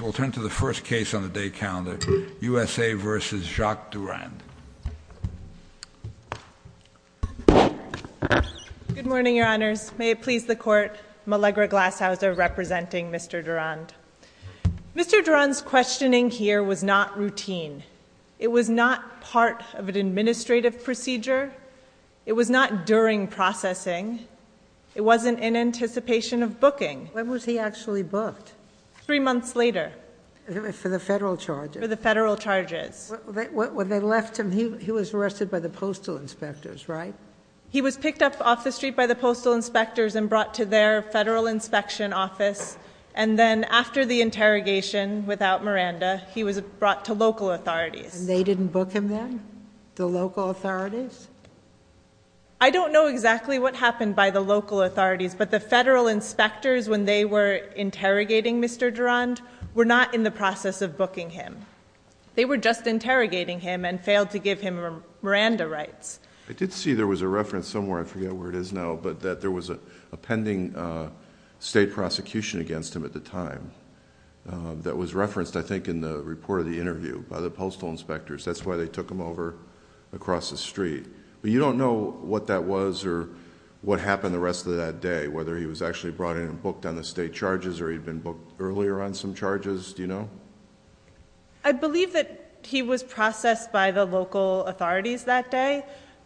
We'll turn to the first case on the day calendar, USA v. Jacques Durand. Good morning, your honors. May it please the court, Malegre Glashauser representing Mr. Durand. Mr. Durand's questioning here was not routine. It was not part of an administrative procedure. It was not during processing. It wasn't in anticipation of booking. When was he actually booked? Three months later. For the federal charges? For the federal charges. When they left him, he was arrested by the postal inspectors, right? He was picked up off the street by the postal inspectors and brought to their federal inspection office, and then after the interrogation without Miranda, he was brought to local authorities. They didn't book him then? The local authorities? I don't know exactly what happened by the local authorities, but the federal inspectors when they were interrogating Mr. Durand were not in the process of booking him. They were just interrogating him and failed to give him Miranda rights. I did see there was a reference somewhere, I forget where it is now, but that there was a pending state prosecution against him at the time that was referenced, I think, in the report of the interview by the postal inspectors. That's why they took him over across the street, but you don't know what that was or what happened the rest of that day, whether he was actually brought in and booked on the state charges or he'd been booked earlier on some charges, do you know? I believe that he was processed by the local authorities that day,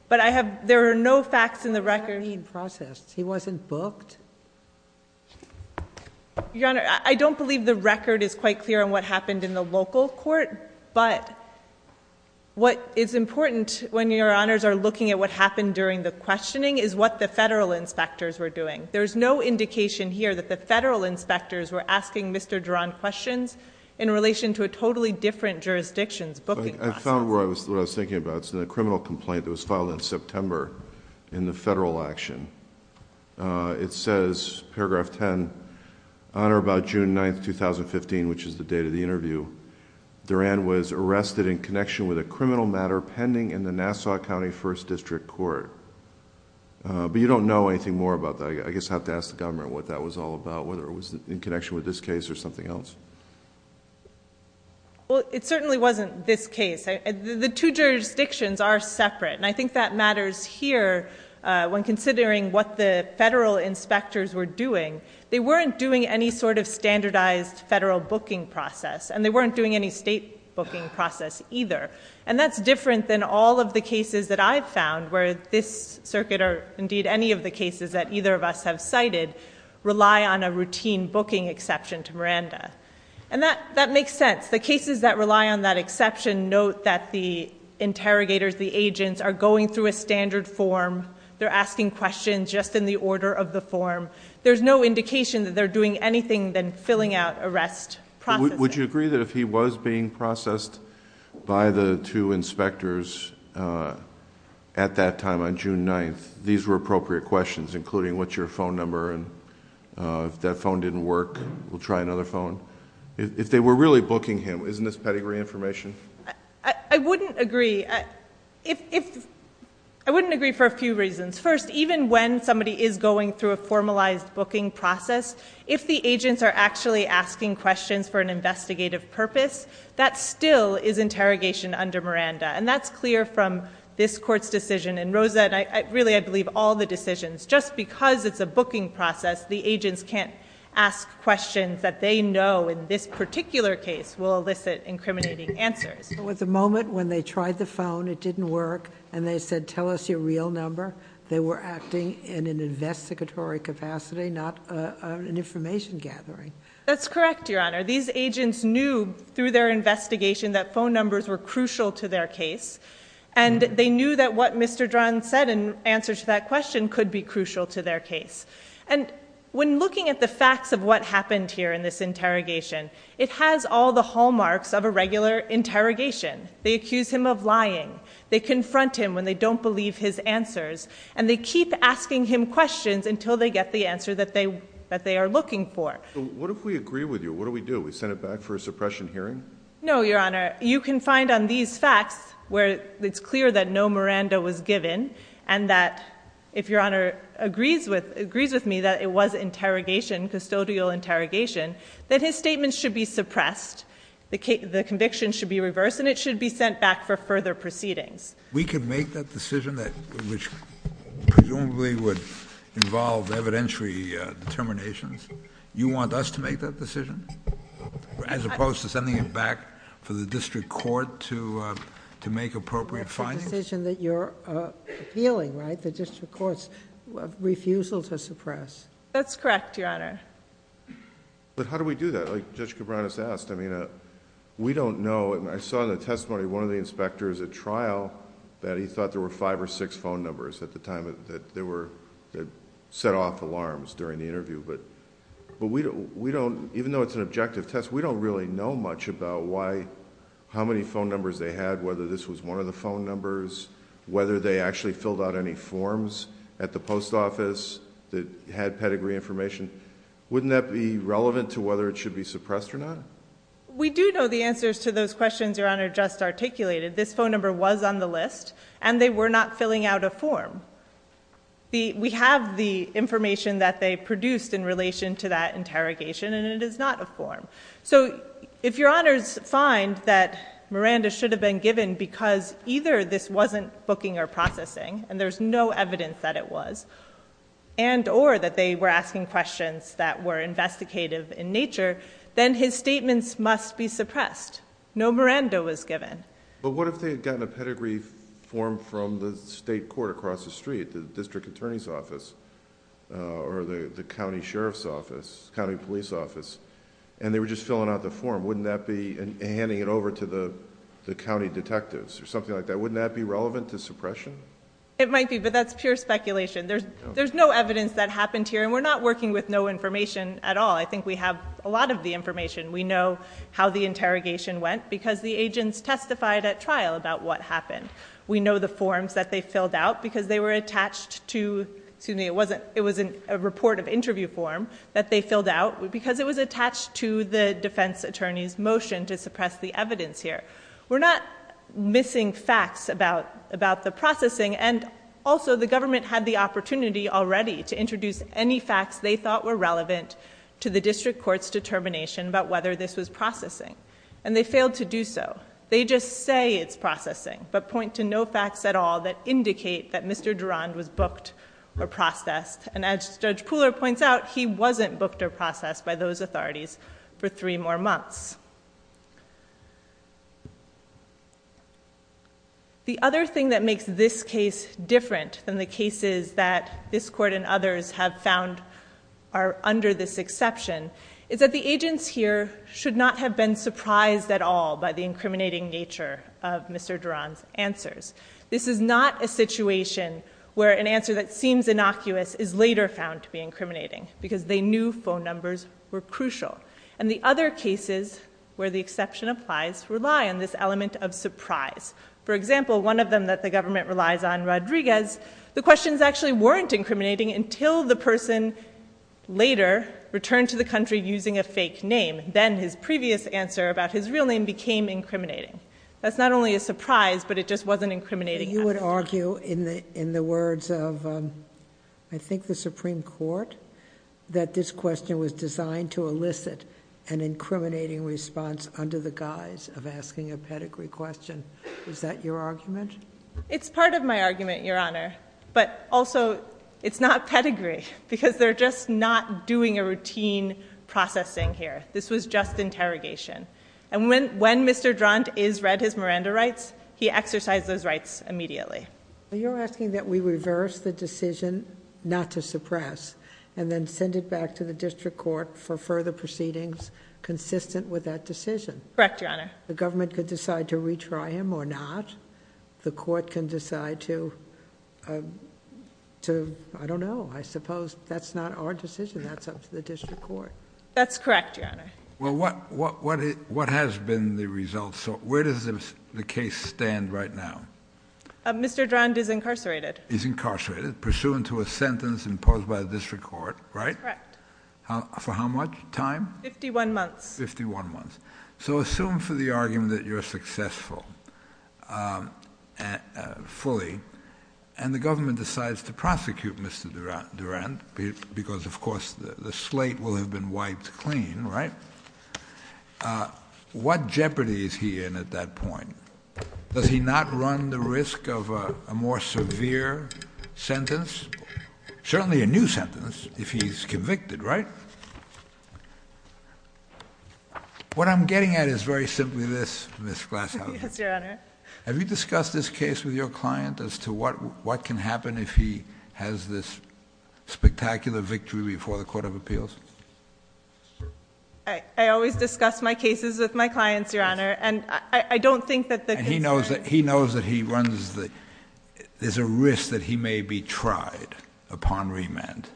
but there are no facts in the record. What do you mean processed? He wasn't booked? Your Honor, I don't believe the record is quite clear on what happened in the local court, but what is important when Your Honors are looking at what happened during the questioning is what the federal inspectors were doing. There's no indication here that the federal inspectors were asking Mr. Durand questions in relation to a totally different jurisdiction's booking process. I found what I was thinking about. It's in a criminal complaint that was filed in September in the federal action. It says, paragraph 10, Honor, about June 9th, 2015, which is the date of the interview, Durand was arrested in connection with a criminal matter pending in the Nassau County First District Court, but you don't know anything more about that. I guess I have to ask the government what that was all about, whether it was in connection with this case or something else. Well, it certainly wasn't this case. The two jurisdictions are separate and I think that matters here when considering what the federal inspectors were doing. They weren't doing any sort of standardized federal booking process and they weren't doing any state booking process either and that's different than all of the cases that I've found where this circuit, or indeed any of the cases that either of us have cited, rely on a routine booking exception to Miranda. And that makes sense. The cases that rely on that exception note that the interrogators, the agents, are going through a standard form. They're asking questions just in the order of the form. There's no indication that they're doing anything than filling out arrest processes. Would you agree that if he was being processed by the two inspectors at that time on June 9th, these were appropriate questions, including what's your phone number and if that phone didn't work, we'll try another phone? If they were really booking him, isn't this pedigree information? I wouldn't agree. I wouldn't agree for a few reasons. First, even when somebody is going through a formalized booking process, if the agents are actually asking questions for an investigative purpose, that still is interrogation under Miranda. And that's clear from this court's decision. And Rosa, and really I believe all the decisions, just because it's a booking process, the agents can't ask questions that they know in this particular case will elicit incriminating answers. There was a moment when they tried the phone, it didn't work, and they said, tell us your real number. They were acting in an investigatory capacity, not an information gathering. That's correct, Your Honor. These agents knew through their investigation that phone numbers were crucial to their case. And they knew that what Mr. Dran said in answer to that question could be crucial to their case. And when looking at the facts of what happened here in this interrogation, it has all the hallmarks of a regular interrogation. They accuse him of lying. They confront him when they don't believe his answers. And they keep asking him questions until they get the answer that they are looking for. What if we agree with you? What do we do? We send it back for a suppression hearing? No, Your Honor, you can find on these facts where it's clear that no Miranda was given. And that if Your Honor agrees with agrees with me that it was interrogation, custodial interrogation, then his statement should be suppressed. The conviction should be reversed and it should be sent back for further proceedings. We could make that decision, which presumably would involve evidentiary determinations. You want us to make that decision? As opposed to sending it back for the district court to make appropriate findings? That's a decision that you're appealing, right? The district court's refusal to suppress. That's correct, Your Honor. But how do we do that? Judge Cabranes asked. We don't know. I saw in the testimony one of the inspectors at trial that he thought there were five or six phone numbers at the time that set off alarms during the interview. But even though it's an objective test, we don't really know much about how many phone numbers they had, whether this was one of the phone numbers, whether they actually filled out any forms at the post office that had pedigree information. Wouldn't that be relevant to whether it should be suppressed or not? We do know the answers to those questions Your Honor just articulated. This phone number was on the list and they were not filling out a form. We have the information that they produced in relation to that interrogation and it is not a form. So if Your Honors find that Miranda should have been given because either this wasn't booking or processing and there's no evidence that it was and or that they were asking questions that were investigative in nature, then his statements must be suppressed. No Miranda was given. But what if they had gotten a pedigree form from the state court across the street, the district attorney's office or the county sheriff's office, county police office and they were just filling out the form? Wouldn't that be handing it over to the county detectives or something like that? Wouldn't that be relevant to suppression? It might be, but that's pure speculation. There's no evidence that happened here and we're not working with no information at all. I think we have a lot of the information. We know how the interrogation went because the agents testified at trial about what happened. We know the forms that they filled out because they were attached to, excuse me, it was a report of interview form that they filled out because it was attached to the defense attorney's motion to suppress the evidence here. We're not missing facts about the processing and also the government had the opportunity already to introduce any facts they thought were relevant to the district court's determination about whether this was processing and they failed to do so. They just say it's processing but point to no facts at all that indicate that Mr. Durand was booked or processed and as Judge Pooler points out, he wasn't booked or processed by those authorities for three more months. The other thing that makes this case different than the cases that this court and others have found are under this exception is that the agents here should not have been surprised at all by the incriminating nature of Mr. Durand's answers. This is not a situation where an answer that seems innocuous is later found to be incriminating because they knew phone numbers were crucial and the other cases where the exception applies rely on this element of surprise. For example, one of them that the government relies on, Rodriguez, the questions actually weren't incriminating until the person later returned to the country using a fake name. Then his previous answer about his real name became incriminating. That's not only a surprise but it just wasn't incriminating. You would argue in the words of I think the Supreme Court that this question was designed to elicit an incriminating response under the guise of asking a pedigree question. Is that your argument? It's part of my argument, Your Honor but also it's not pedigree because they're just not doing a routine processing here. This was just interrogation and when Mr. Durand is read his Miranda rights, he exercised those rights immediately. You're asking that we reverse the decision not to suppress and then send it back to the district court for further proceedings consistent with that decision. Correct, Your Honor. The government could decide to retry him or not. The court can decide to, I don't know, I suppose that's not our decision. That's up to the district court. That's correct, Your Honor. Well, what has been the results? So where does the case stand right now? Mr. Durand is incarcerated. Is incarcerated pursuant to a sentence imposed by the district court, right? That's correct. For how much time? 51 months. 51 months. So assume for the argument that you're successful. And fully. And the government decides to prosecute Mr. Durand because of course the slate will have been wiped clean, right? What jeopardy is he in at that point? Does he not run the risk of a more severe sentence? Certainly a new sentence if he's convicted, right? What I'm getting at is very simply this, Ms. Glasshouse. Yes, Your Honor. Have you discussed this case with your client as to what can happen if he has this spectacular victory before the Court of Appeals? I always discuss my cases with my clients, Your Honor. And I don't think that the concern... He knows that he runs the... There's a risk that he may be tried upon remand.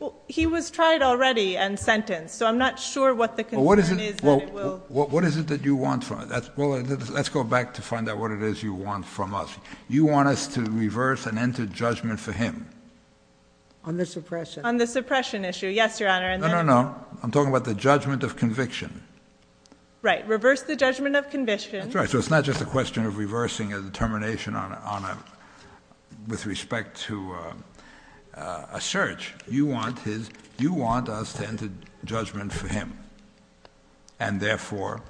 Well, he was tried already and sentenced. So I'm not sure what the concern is that it will... What is it that you want from it? Let's go back to find out what it is you want from us. You want us to reverse and enter judgment for him. On the suppression. On the suppression issue. Yes, Your Honor. No, no, no. I'm talking about the judgment of conviction. Right. Reverse the judgment of conviction. That's right. So it's not just a question of reversing a determination with respect to a search. You want us to enter judgment for him. And therefore,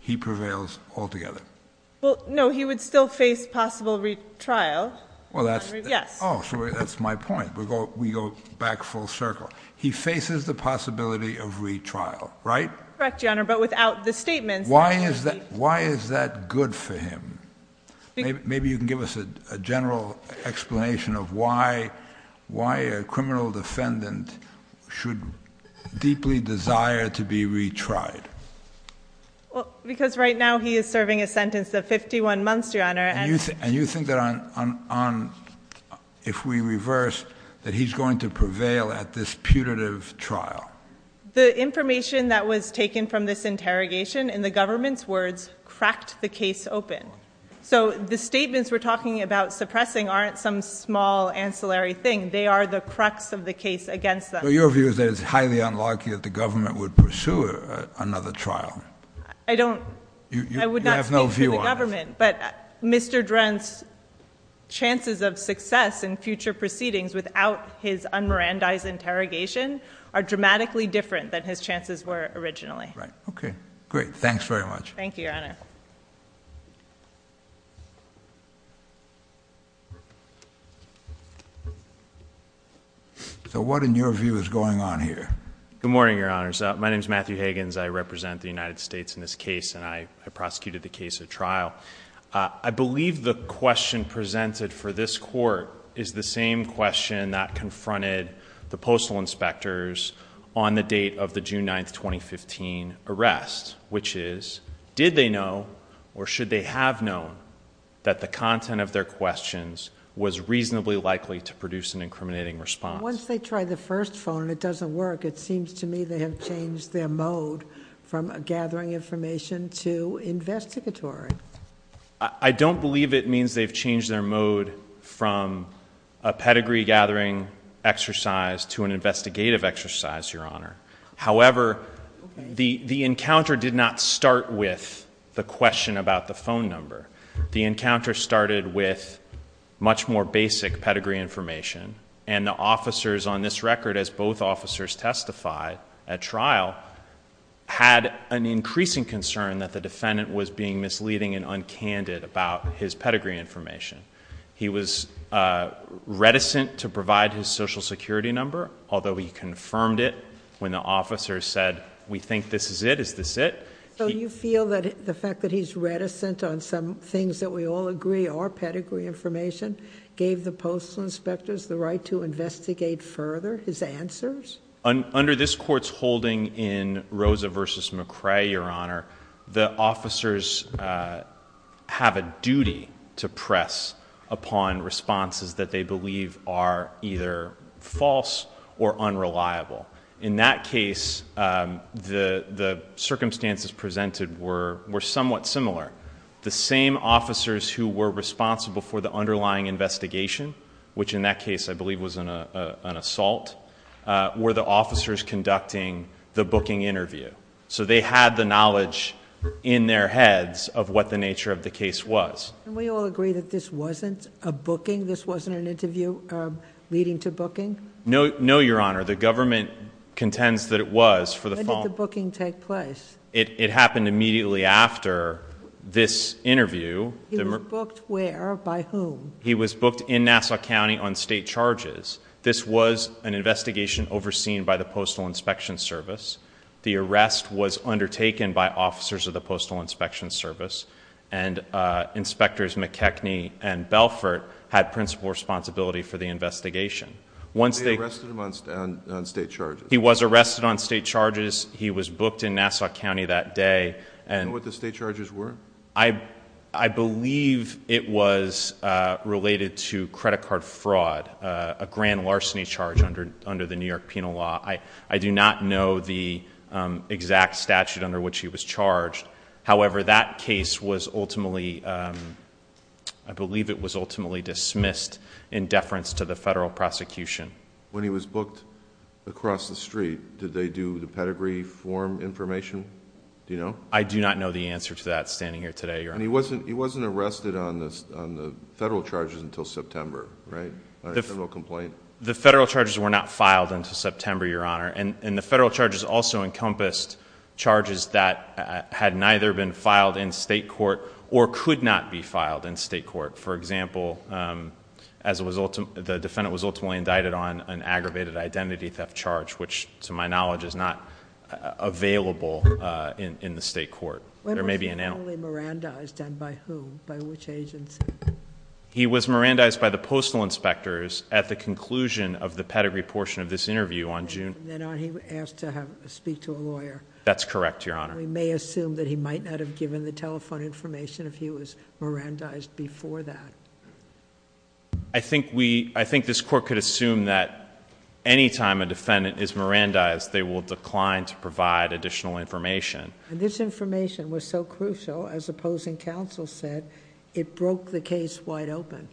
he prevails altogether. Well, no. He would still face possible retrial. Well, that's... Yes. Oh, sorry. That's my point. We go back full circle. He faces the possibility of retrial, right? Correct, Your Honor. But without the statements... Why is that good for him? Maybe you can give us a general explanation of why a criminal defendant should deeply desire to be retried. Well, because right now he is serving a sentence of 51 months, Your Honor. And you think that if we reverse, that he's going to prevail at this putative trial? The information that was taken from this interrogation, in the government's words, cracked the case open. So the statements we're talking about suppressing aren't some small ancillary thing. They are the crux of the case against them. Your view is that it's highly unlucky that the government would pursue another trial. I don't... I would not speak for the government. But Mr. Drent's chances of success in future proceedings without his un-Mirandi's interrogation are dramatically different than his chances were originally. Right. Okay. Great. Thanks very much. Thank you, Your Honor. So what, in your view, is going on here? Good morning, Your Honors. My name is Matthew Higgins. I represent the United States in this case, and I prosecuted the case at trial. I believe the question presented for this court is the same question that confronted the postal inspectors on the date of the June 9, 2015 arrest, which is, did they know, or should they have known, that the content of their questions was reasonably likely to produce an incriminating response? Once they try the first phone and it doesn't work, it seems to me they have changed their mode from gathering information to investigatory. I don't believe it means they've changed their mode from a pedigree gathering exercise to an investigative exercise, Your Honor. However, the encounter did not start with the question about the phone number. The encounter started with much more basic pedigree information, and the officers on this record, as both officers testified at trial, had an increasing concern that the defendant was being misleading and uncandid about his pedigree information. He was reticent to provide his social security number, although he confirmed it when the officer said, we think this is it. Is this it? So you feel that the fact that he's reticent on some things that we all agree are pedigree information gave the postal inspectors the right to investigate further his answers? Under this court's holding in Rosa v. McCrae, Your Honor, the officers have a duty to press upon responses that they believe are either false or unreliable. In that case, the circumstances presented were somewhat similar. The same officers who were responsible for the underlying investigation, which in that case I believe was an assault, were the officers conducting the booking interview. So they had the knowledge in their heads of what the nature of the case was. Can we all agree that this wasn't a booking? This wasn't an interview leading to booking? No, Your Honor. The government contends that it was. When did the booking take place? It happened immediately after this interview. He was booked where? By whom? He was booked in Nassau County on state charges. This was an investigation overseen by the Postal Inspection Service. The arrest was undertaken by officers of the Postal Inspection Service and Inspectors McKechnie and Belfort had principal responsibility for the investigation. Was he arrested on state charges? He was arrested on state charges. He was booked in Nassau County that day. Do you know what the state charges were? I believe it was related to credit card fraud, a grand larceny charge under the New York penal law. I do not know the exact statute under which he was charged. However, that case was ultimately, I believe it was ultimately dismissed in deference to the federal prosecution. When he was booked across the street, did they do the pedigree form information? I do not know the answer to that standing here today, Your Honor. He wasn't arrested on the federal charges until September, right? The federal charges were not filed until September, Your Honor. And the federal charges also encompassed charges that had neither been filed in state court or could not be filed in state court. For example, the defendant was ultimately indicted on an aggravated identity theft charge, which to my knowledge is not available in the state court. When was he formally Mirandized and by whom? By which agency? He was Mirandized by the Postal Inspectors at the conclusion of the pedigree portion of this interview on June. Then he was asked to speak to a lawyer. That's correct, Your Honor. We may assume that he might not have given the telephone information if he was Mirandized before that. I think this court could assume that anytime a defendant is Mirandized, they will decline to provide additional information. And this information was so crucial, as opposing counsel said, it broke the case wide open.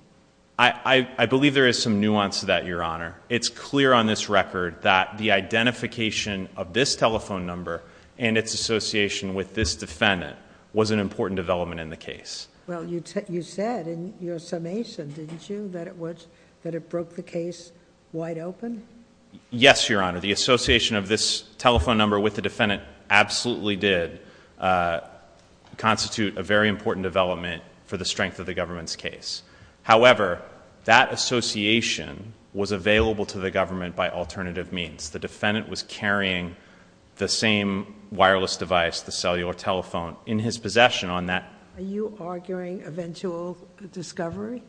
I believe there is some nuance to that, Your Honor. It's clear on this record that the identification of this telephone number and its association with this defendant was an important development in the case. Well, you said in your summation, didn't you, that it broke the case wide open? Yes, Your Honor. The association of this telephone number with the defendant absolutely did constitute a very important development for the strength of the government's case. However, that association was available to the government by alternative means. The defendant was carrying the same wireless device, the cellular telephone, in his possession on that. Are you arguing eventual discovery?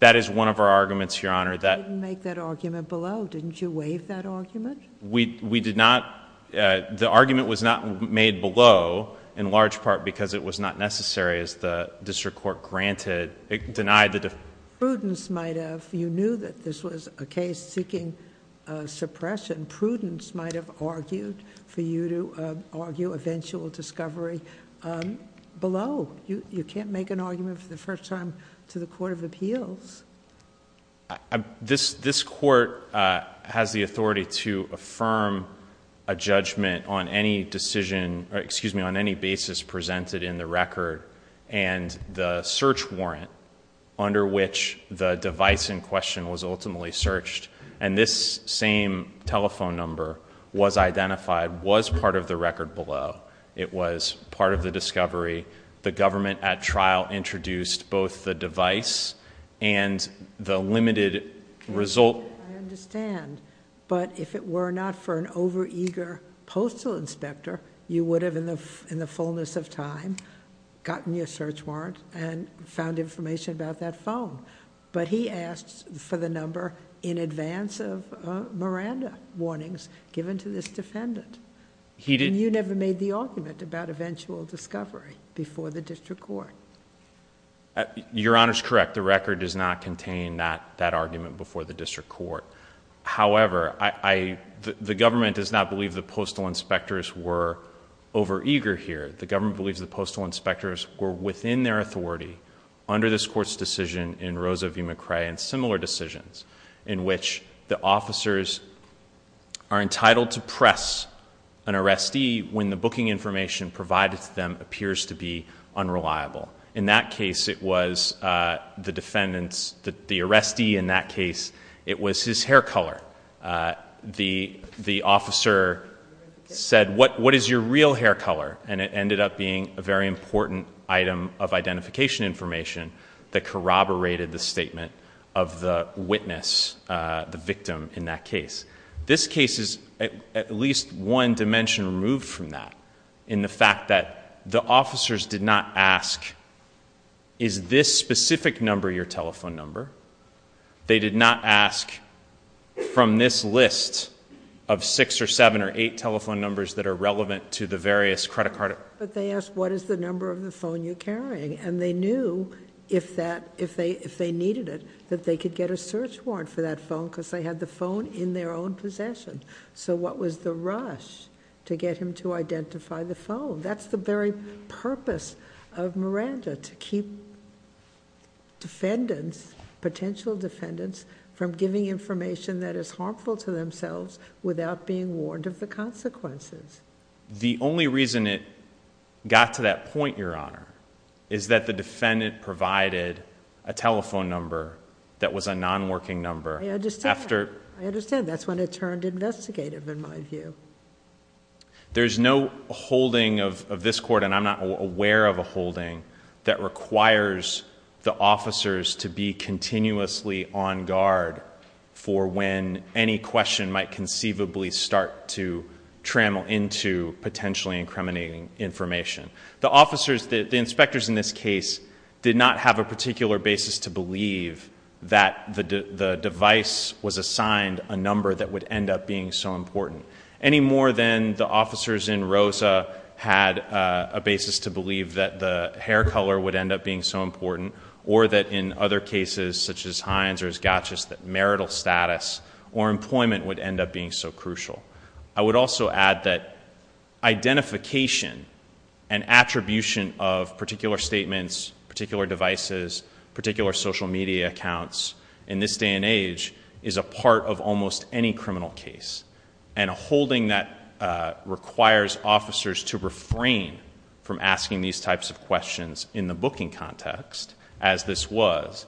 That is one of our arguments, Your Honor. I didn't make that argument below. Didn't you waive that argument? The argument was not made below, in large part, because it was not necessary, as the district court granted. It denied the defendant. Prudence might have. You knew that this was a case seeking suppression. Prudence might have argued for you to argue eventual discovery below. You can't make an argument for the first time to the Court of Appeals. This court has the authority to affirm a judgment on any decision, excuse me, on any basis presented in the record and the search warrant under which the device in question was ultimately searched. This same telephone number was identified, was part of the record below. It was part of the discovery. The government, at trial, introduced both the device and the limited result. I understand, but if it were not for an over-eager postal inspector, you would have, in the fullness of time, gotten your search warrant and found information about that phone. He asked for the number in advance of Miranda warnings given to this defendant. You never made the argument about eventual discovery before the district court. Your Honor is correct. The record does not contain that argument before the district court. However, the government does not believe the postal inspectors were over-eager here. The government believes the postal inspectors were within their authority under this court's decision in Rosa v. McRae and similar decisions in which the officers are entitled to press an arrestee when the booking information provided to them appears to be unreliable. In that case, it was the defendant's, the arrestee in that case, it was his hair color. The officer said, what is your real hair color? It ended up being a very important item of identification information that corroborated the statement of the witness, the victim in that case. This case is at least one dimension removed from that in the fact that the officers did not ask, is this specific number your telephone number? They did not ask from this list of six or seven or eight telephone numbers that are relevant to the various credit card... But they asked, what is the number of the phone you're carrying? They knew if they needed it, that they could get a search warrant for that phone because they had the phone in their own possession. What was the rush to get him to identify the phone? That's the very purpose of Miranda, to keep defendants, potential defendants, from giving information that is harmful to themselves without being warned of the consequences. The only reason it got to that point, Your Honor, is that the defendant provided a telephone number that was a non-working number. I understand. I understand. That's when it turned investigative in my view. There's no holding of this court, and I'm not aware of a holding, that requires the officers to be continuously on guard for when any question might conceivably start to trammel into potentially incriminating information. The officers, the inspectors in this case, did not have a particular basis to believe that the device was assigned a number that would end up being so important, any more than the officers in Rosa had a basis to believe that the hair color would end up being so important, or that in other cases such as Hines or as Gatchis, that marital status or employment would end up being so crucial. I would also add that identification and attribution of particular statements, particular devices, particular social media accounts in this day and age is a part of almost any criminal case, and a holding that requires officers to refrain from asking these types of questions in the booking context as this was,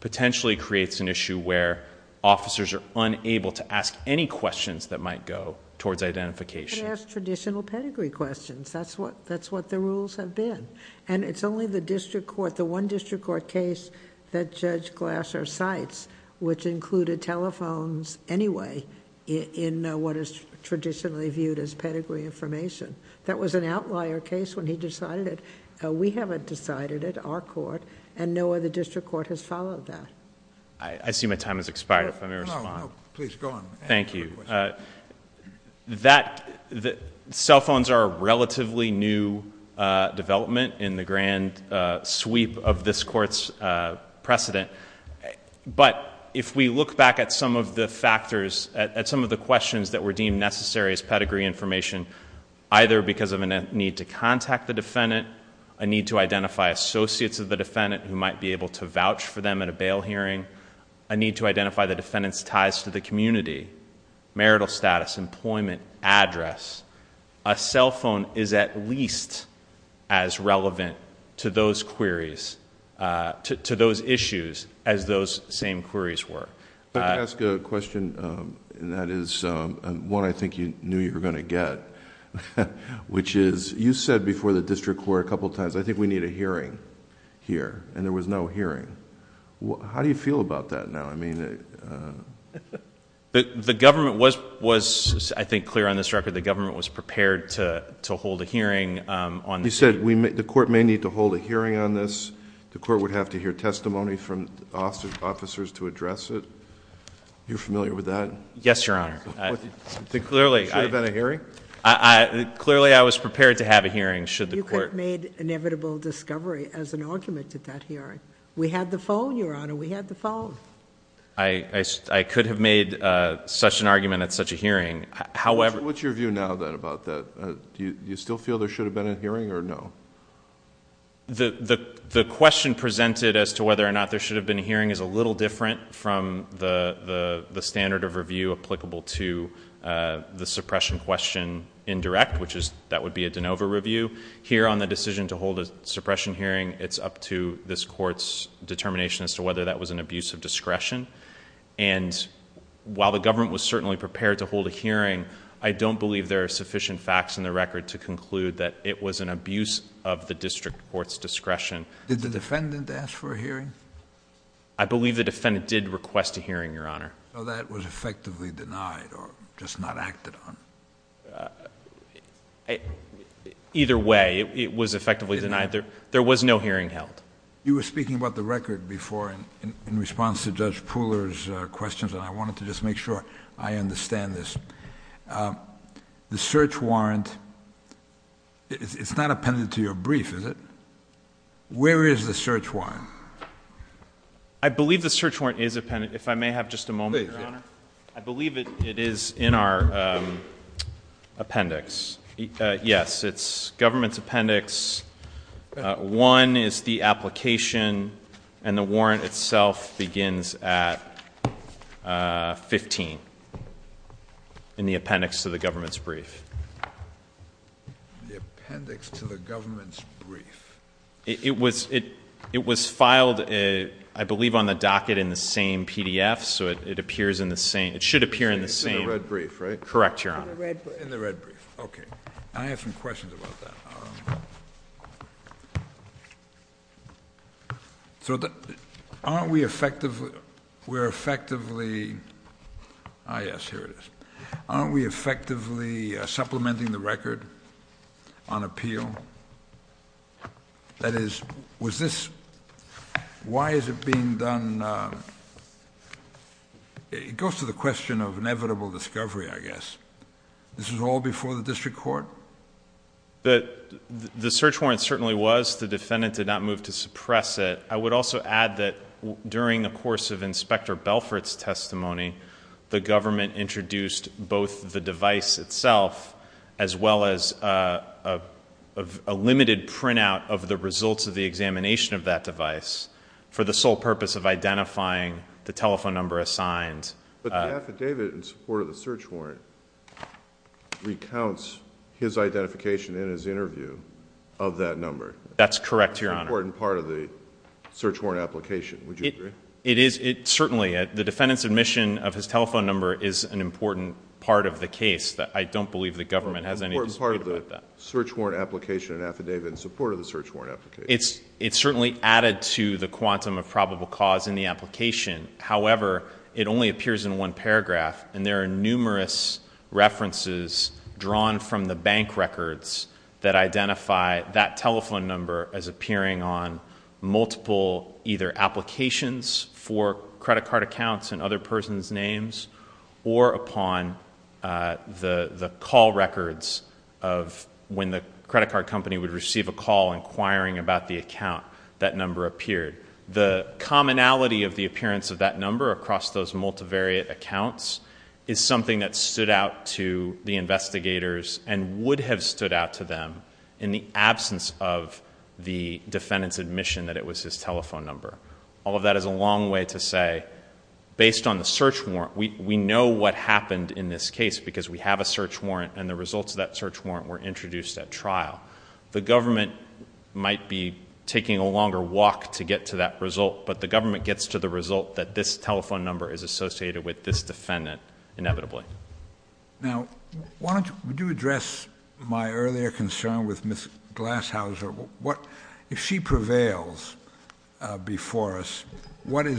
potentially creates an issue where officers are unable to ask any questions that might go towards identification. Ask traditional pedigree questions. That's what the rules have been, and it's only the district court, case that Judge Glasser cites, which included telephones anyway in what is traditionally viewed as pedigree information. That was an outlier case when he decided it. We haven't decided it, our court, and no other district court has followed that..... I see my time has expired. precedent, but if we look back at some of the factors, at some of the questions that were deemed necessary as pedigree information, either because of a need to contact the defendant, a need to identify associates of the defendant who might be able to vouch for them at a bail hearing, a need to identify the defendant's ties to the community, marital status, employment, address, a cell phone is at least as relevant to those queries to those issues as those same queries were. I'd like to ask a question, and that is one I think you knew you were going to get, which is, you said before the district court a couple of times, I think we need a hearing here, and there was no hearing. How do you feel about that now? I mean... The government was, I think, clear on this record. The government was prepared to hold a hearing on... You said the court may need to hold a hearing on this. The court would have to hear testimony from officers to address it. You're familiar with that? Yes, Your Honor. Should there have been a hearing? Clearly, I was prepared to have a hearing should the court... You could have made inevitable discovery as an argument at that hearing. We had the phone, Your Honor. We had the phone. I could have made such an argument at such a hearing. However... What's your view now, then, about that? Do you still feel there should have been a hearing or no? The question presented as to whether or not there should have been a hearing is a little different from the standard of review applicable to the suppression question in direct, which is that would be a de novo review. Here, on the decision to hold a suppression hearing, it's up to this court's determination as to whether that was an abuse of discretion, and while the government was certainly prepared to hold a hearing, I don't believe there are sufficient facts in the record to conclude that it was an abuse of the district court's discretion. Did the defendant ask for a hearing? I believe the defendant did request a hearing, Your Honor. So that was effectively denied or just not acted on? Either way, it was effectively denied. There was no hearing held. You were speaking about the record before in response to Judge Pooler's questions, and I wanted to just make sure I understand this. The search warrant, it's not appended to your brief, is it? Where is the search warrant? I believe the search warrant is appended. If I may have just a moment, Your Honor. I believe it is in our appendix. Yes, it's government's appendix. One is the application, and the warrant itself begins at 15. The appendix to the government's brief. The appendix to the government's brief. It was filed, I believe, on the docket in the same PDF, so it appears in the same. It should appear in the same. In the red brief, right? Correct, Your Honor. In the red brief. Okay. I have some questions about that. So aren't we effectively supplementing the record on appeal? That is, why is it being done? It goes to the question of inevitable discovery, I guess. This was all before the district court? The search warrant certainly was. The defendant did not move to suppress it. I would also add that during the course of Inspector Belfort's testimony, the government introduced both the device itself, as well as a limited printout of the results of the examination of that device for the sole purpose of identifying the telephone number assigned. But the affidavit in support of the search warrant recounts his identification in his interview of that number. That's correct, Your Honor. That's an important part of the search warrant application. Would you agree? It is. Certainly. The defendant's admission of his telephone number is an important part of the case that I don't believe the government has any dispute about that. It's an important part of the search warrant application and affidavit in support of the search warrant application. It's certainly added to the quantum of probable cause in the application. However, it only appears in one paragraph, and there are numerous references drawn from the bank records that identify that telephone number as appearing on multiple either applications for credit card accounts and other person's names, or upon the call records of when the credit card company would receive a call inquiring about the account, that number appeared. The commonality of the appearance of that number across those multivariate accounts is something that stood out to the investigators and would have stood out to them in the absence of the defendant's admission that it was his telephone number. All of that is a long way to say, based on the search warrant, we know what happened in this case because we have a search warrant and the results of that search warrant were introduced at trial. The government might be taking a longer walk to get to that result, but the government gets to the result that this telephone number is associated with this defendant inevitably. Now, why don't you address my earlier concern with Ms. Glashauser. If she prevails before us, what would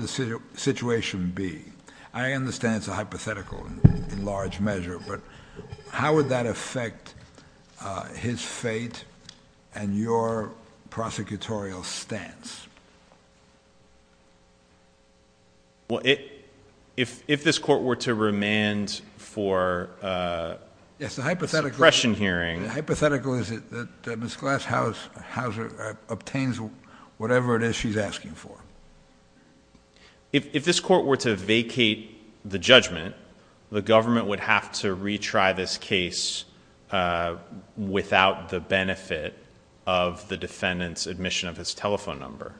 the situation be? I understand it's a hypothetical in large measure, but how would that affect his fate and your prosecutorial stance? Well, if this court were to remand for a suppression hearing... Yes, the hypothetical is that Ms. Glashauser obtains whatever it is she's asking for. If this court were to vacate the judgment, the government would have to retry this case without the benefit of the defendant's admission of his telephone number.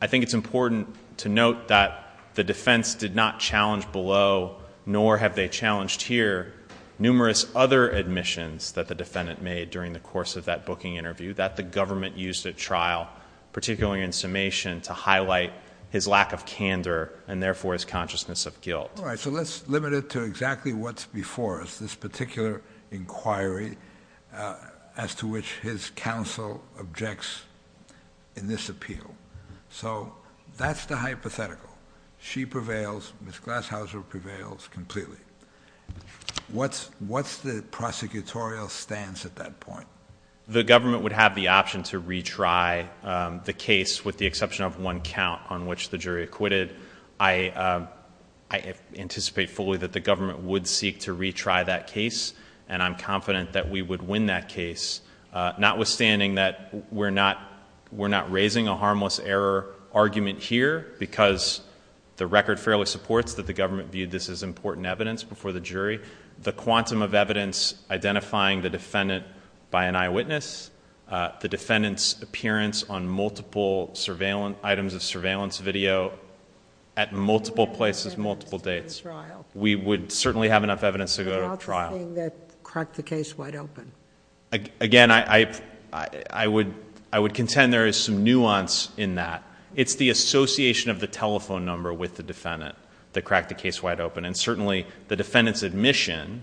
I think it's important to note that the defense did not challenge below, nor have they challenged here, numerous other admissions that the defendant made during the course of that booking interview that the government used at trial, particularly in summation, to highlight his lack of candor and therefore his consciousness of guilt. All right, so let's limit it to exactly what's before us, this particular inquiry as to which his counsel objects in this appeal. So that's the hypothetical. She prevails. Ms. Glashauser prevails completely. What's the prosecutorial stance at that point? The government would have the option to retry the case with the exception of one count on which the jury acquitted. I anticipate fully that the government would seek to retry that case, and I'm confident that we would win that case, notwithstanding that we're not raising a harmless error argument here because the record fairly supports that the government viewed this as important evidence before the jury. The quantum of evidence identifying the defendant by an eyewitness, the defendant's appearance on multiple items of surveillance video at multiple places, multiple dates, we would certainly have enough evidence to go to trial. What about the thing that cracked the case wide open? Again, I would contend there is some nuance in that. It's the association of the telephone number with the defendant that cracked the case wide open, and certainly the defendant's admission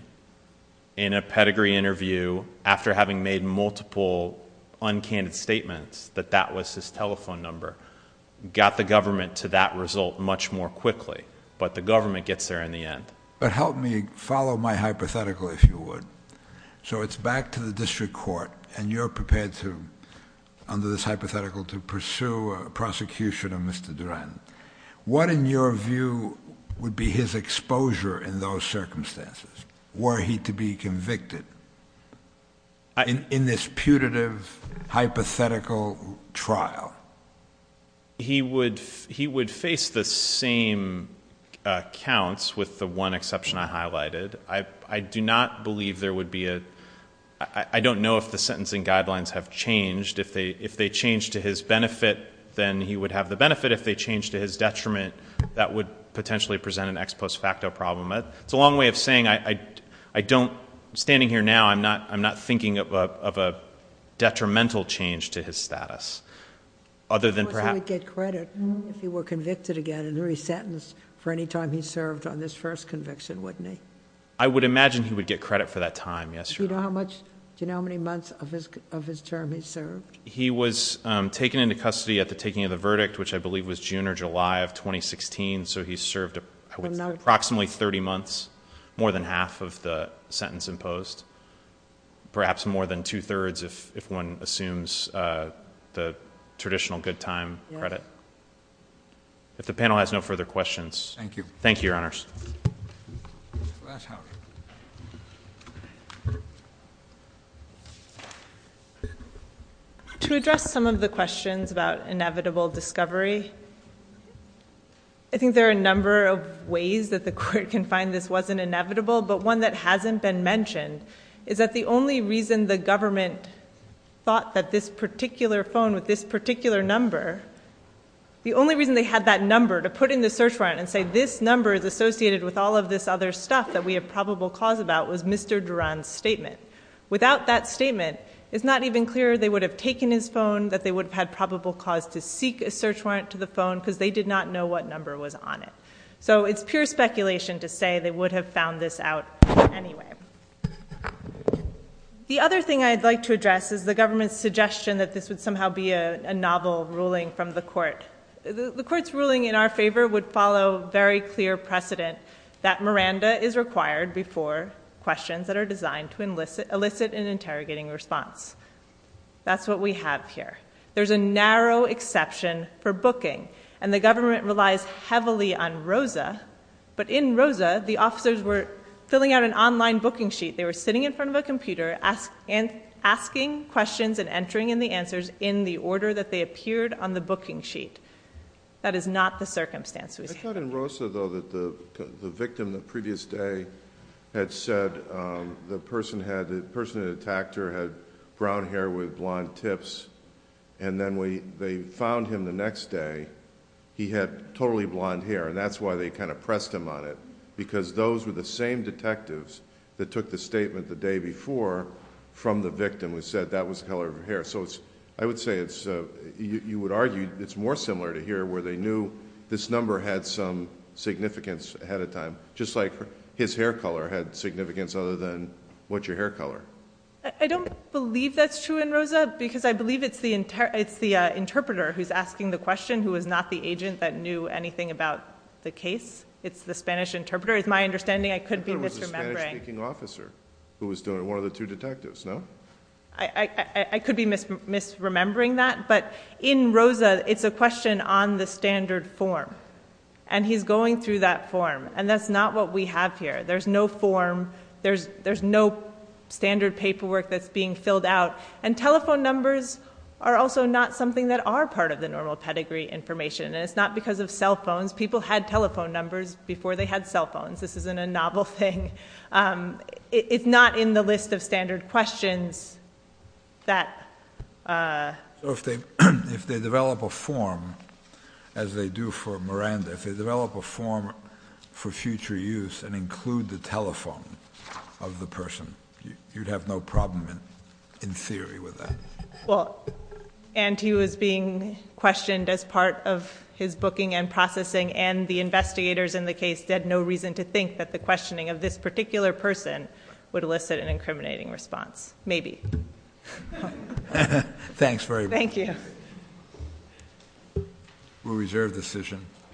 in a pedigree interview after having made multiple uncanny statements that that was his telephone number got the government to that result much more quickly, but the government gets there in the end. But help me follow my hypothetical, if you would. So it's back to the district court, and you're prepared to, under this hypothetical, to pursue a prosecution of Mr. Duren. What, in your view, would be his exposure in those circumstances? Were he to be convicted in this putative, hypothetical trial? He would face the same counts, with the one exception I highlighted. I do not believe there would be a—I don't know if the sentencing guidelines have changed. If they change to his benefit, then he would have the benefit. If they change to his detriment, that would potentially present an ex post facto problem. It's a long way of saying, I don't—standing here now, I'm not thinking of a detrimental change to his status. Other than perhaps— He would get credit if he were convicted again and re-sentenced for any time he served on this first conviction, wouldn't he? I would imagine he would get credit for that time, yes, Your Honor. Do you know how many months of his term he served? He was taken into custody at the taking of the verdict, which I believe was June or July of 2016. So he served approximately 30 months, more than half of the sentence imposed. Perhaps more than two-thirds if one assumes the traditional good time credit. If the panel has no further questions— Thank you. Thank you, Your Honors. To address some of the questions about inevitable discovery, I think there are a number of ways that the Court can find this wasn't inevitable, but one that hasn't been mentioned is that the only reason the government thought that this particular phone with this particular number—the only reason they had that number to put in the search warrant and say this number is associated with all of this other stuff that we have probable cause about was Mr. Duran's statement. Without that statement, it's not even clear they would have taken his phone, that they would have had probable cause to seek a search warrant to the phone because they did not know what number was on it. So it's pure speculation to say they would have found this out anyway. The other thing I'd like to address is the government's suggestion that this would somehow be a novel ruling from the Court. The Court's ruling in our favor would follow very clear precedent that Miranda is required before questions that are designed to elicit an interrogating response. That's what we have here. There's a narrow exception for booking, and the government relies heavily on ROSA, but in ROSA, the officers were filling out an online booking sheet. They were sitting in front of a computer, asking questions and entering in the answers in the order that they appeared on the booking sheet. That is not the circumstance. I thought in ROSA, though, that the victim the previous day had said the person had—the they found him the next day, he had totally blonde hair, and that's why they kind of pressed him on it, because those were the same detectives that took the statement the day before from the victim who said that was the color of his hair. I would say you would argue it's more similar to here, where they knew this number had some significance ahead of time, just like his hair color had significance other than, what's your hair color? I don't believe that's true in ROSA, because I believe it's the interpreter who's asking the question, who is not the agent that knew anything about the case. It's the Spanish interpreter. It's my understanding. I could be misremembering— It was a Spanish-speaking officer who was doing it, one of the two detectives, no? I could be misremembering that, but in ROSA, it's a question on the standard form, and he's going through that form, and that's not what we have here. There's no form. There's no standard paperwork that's being filled out, and telephone numbers are also not something that are part of the normal pedigree information, and it's not because of cell phones. People had telephone numbers before they had cell phones. This isn't a novel thing. It's not in the list of standard questions that— If they develop a form, as they do for Miranda, if they develop a form for future use and include the telephone of the person, you'd have no problem, in theory, with that. Well, and he was being questioned as part of his booking and processing, and the investigators in the case had no reason to think that the questioning of this particular person would elicit an incriminating response. Maybe. Thanks very much. Thank you. We'll reserve the decision.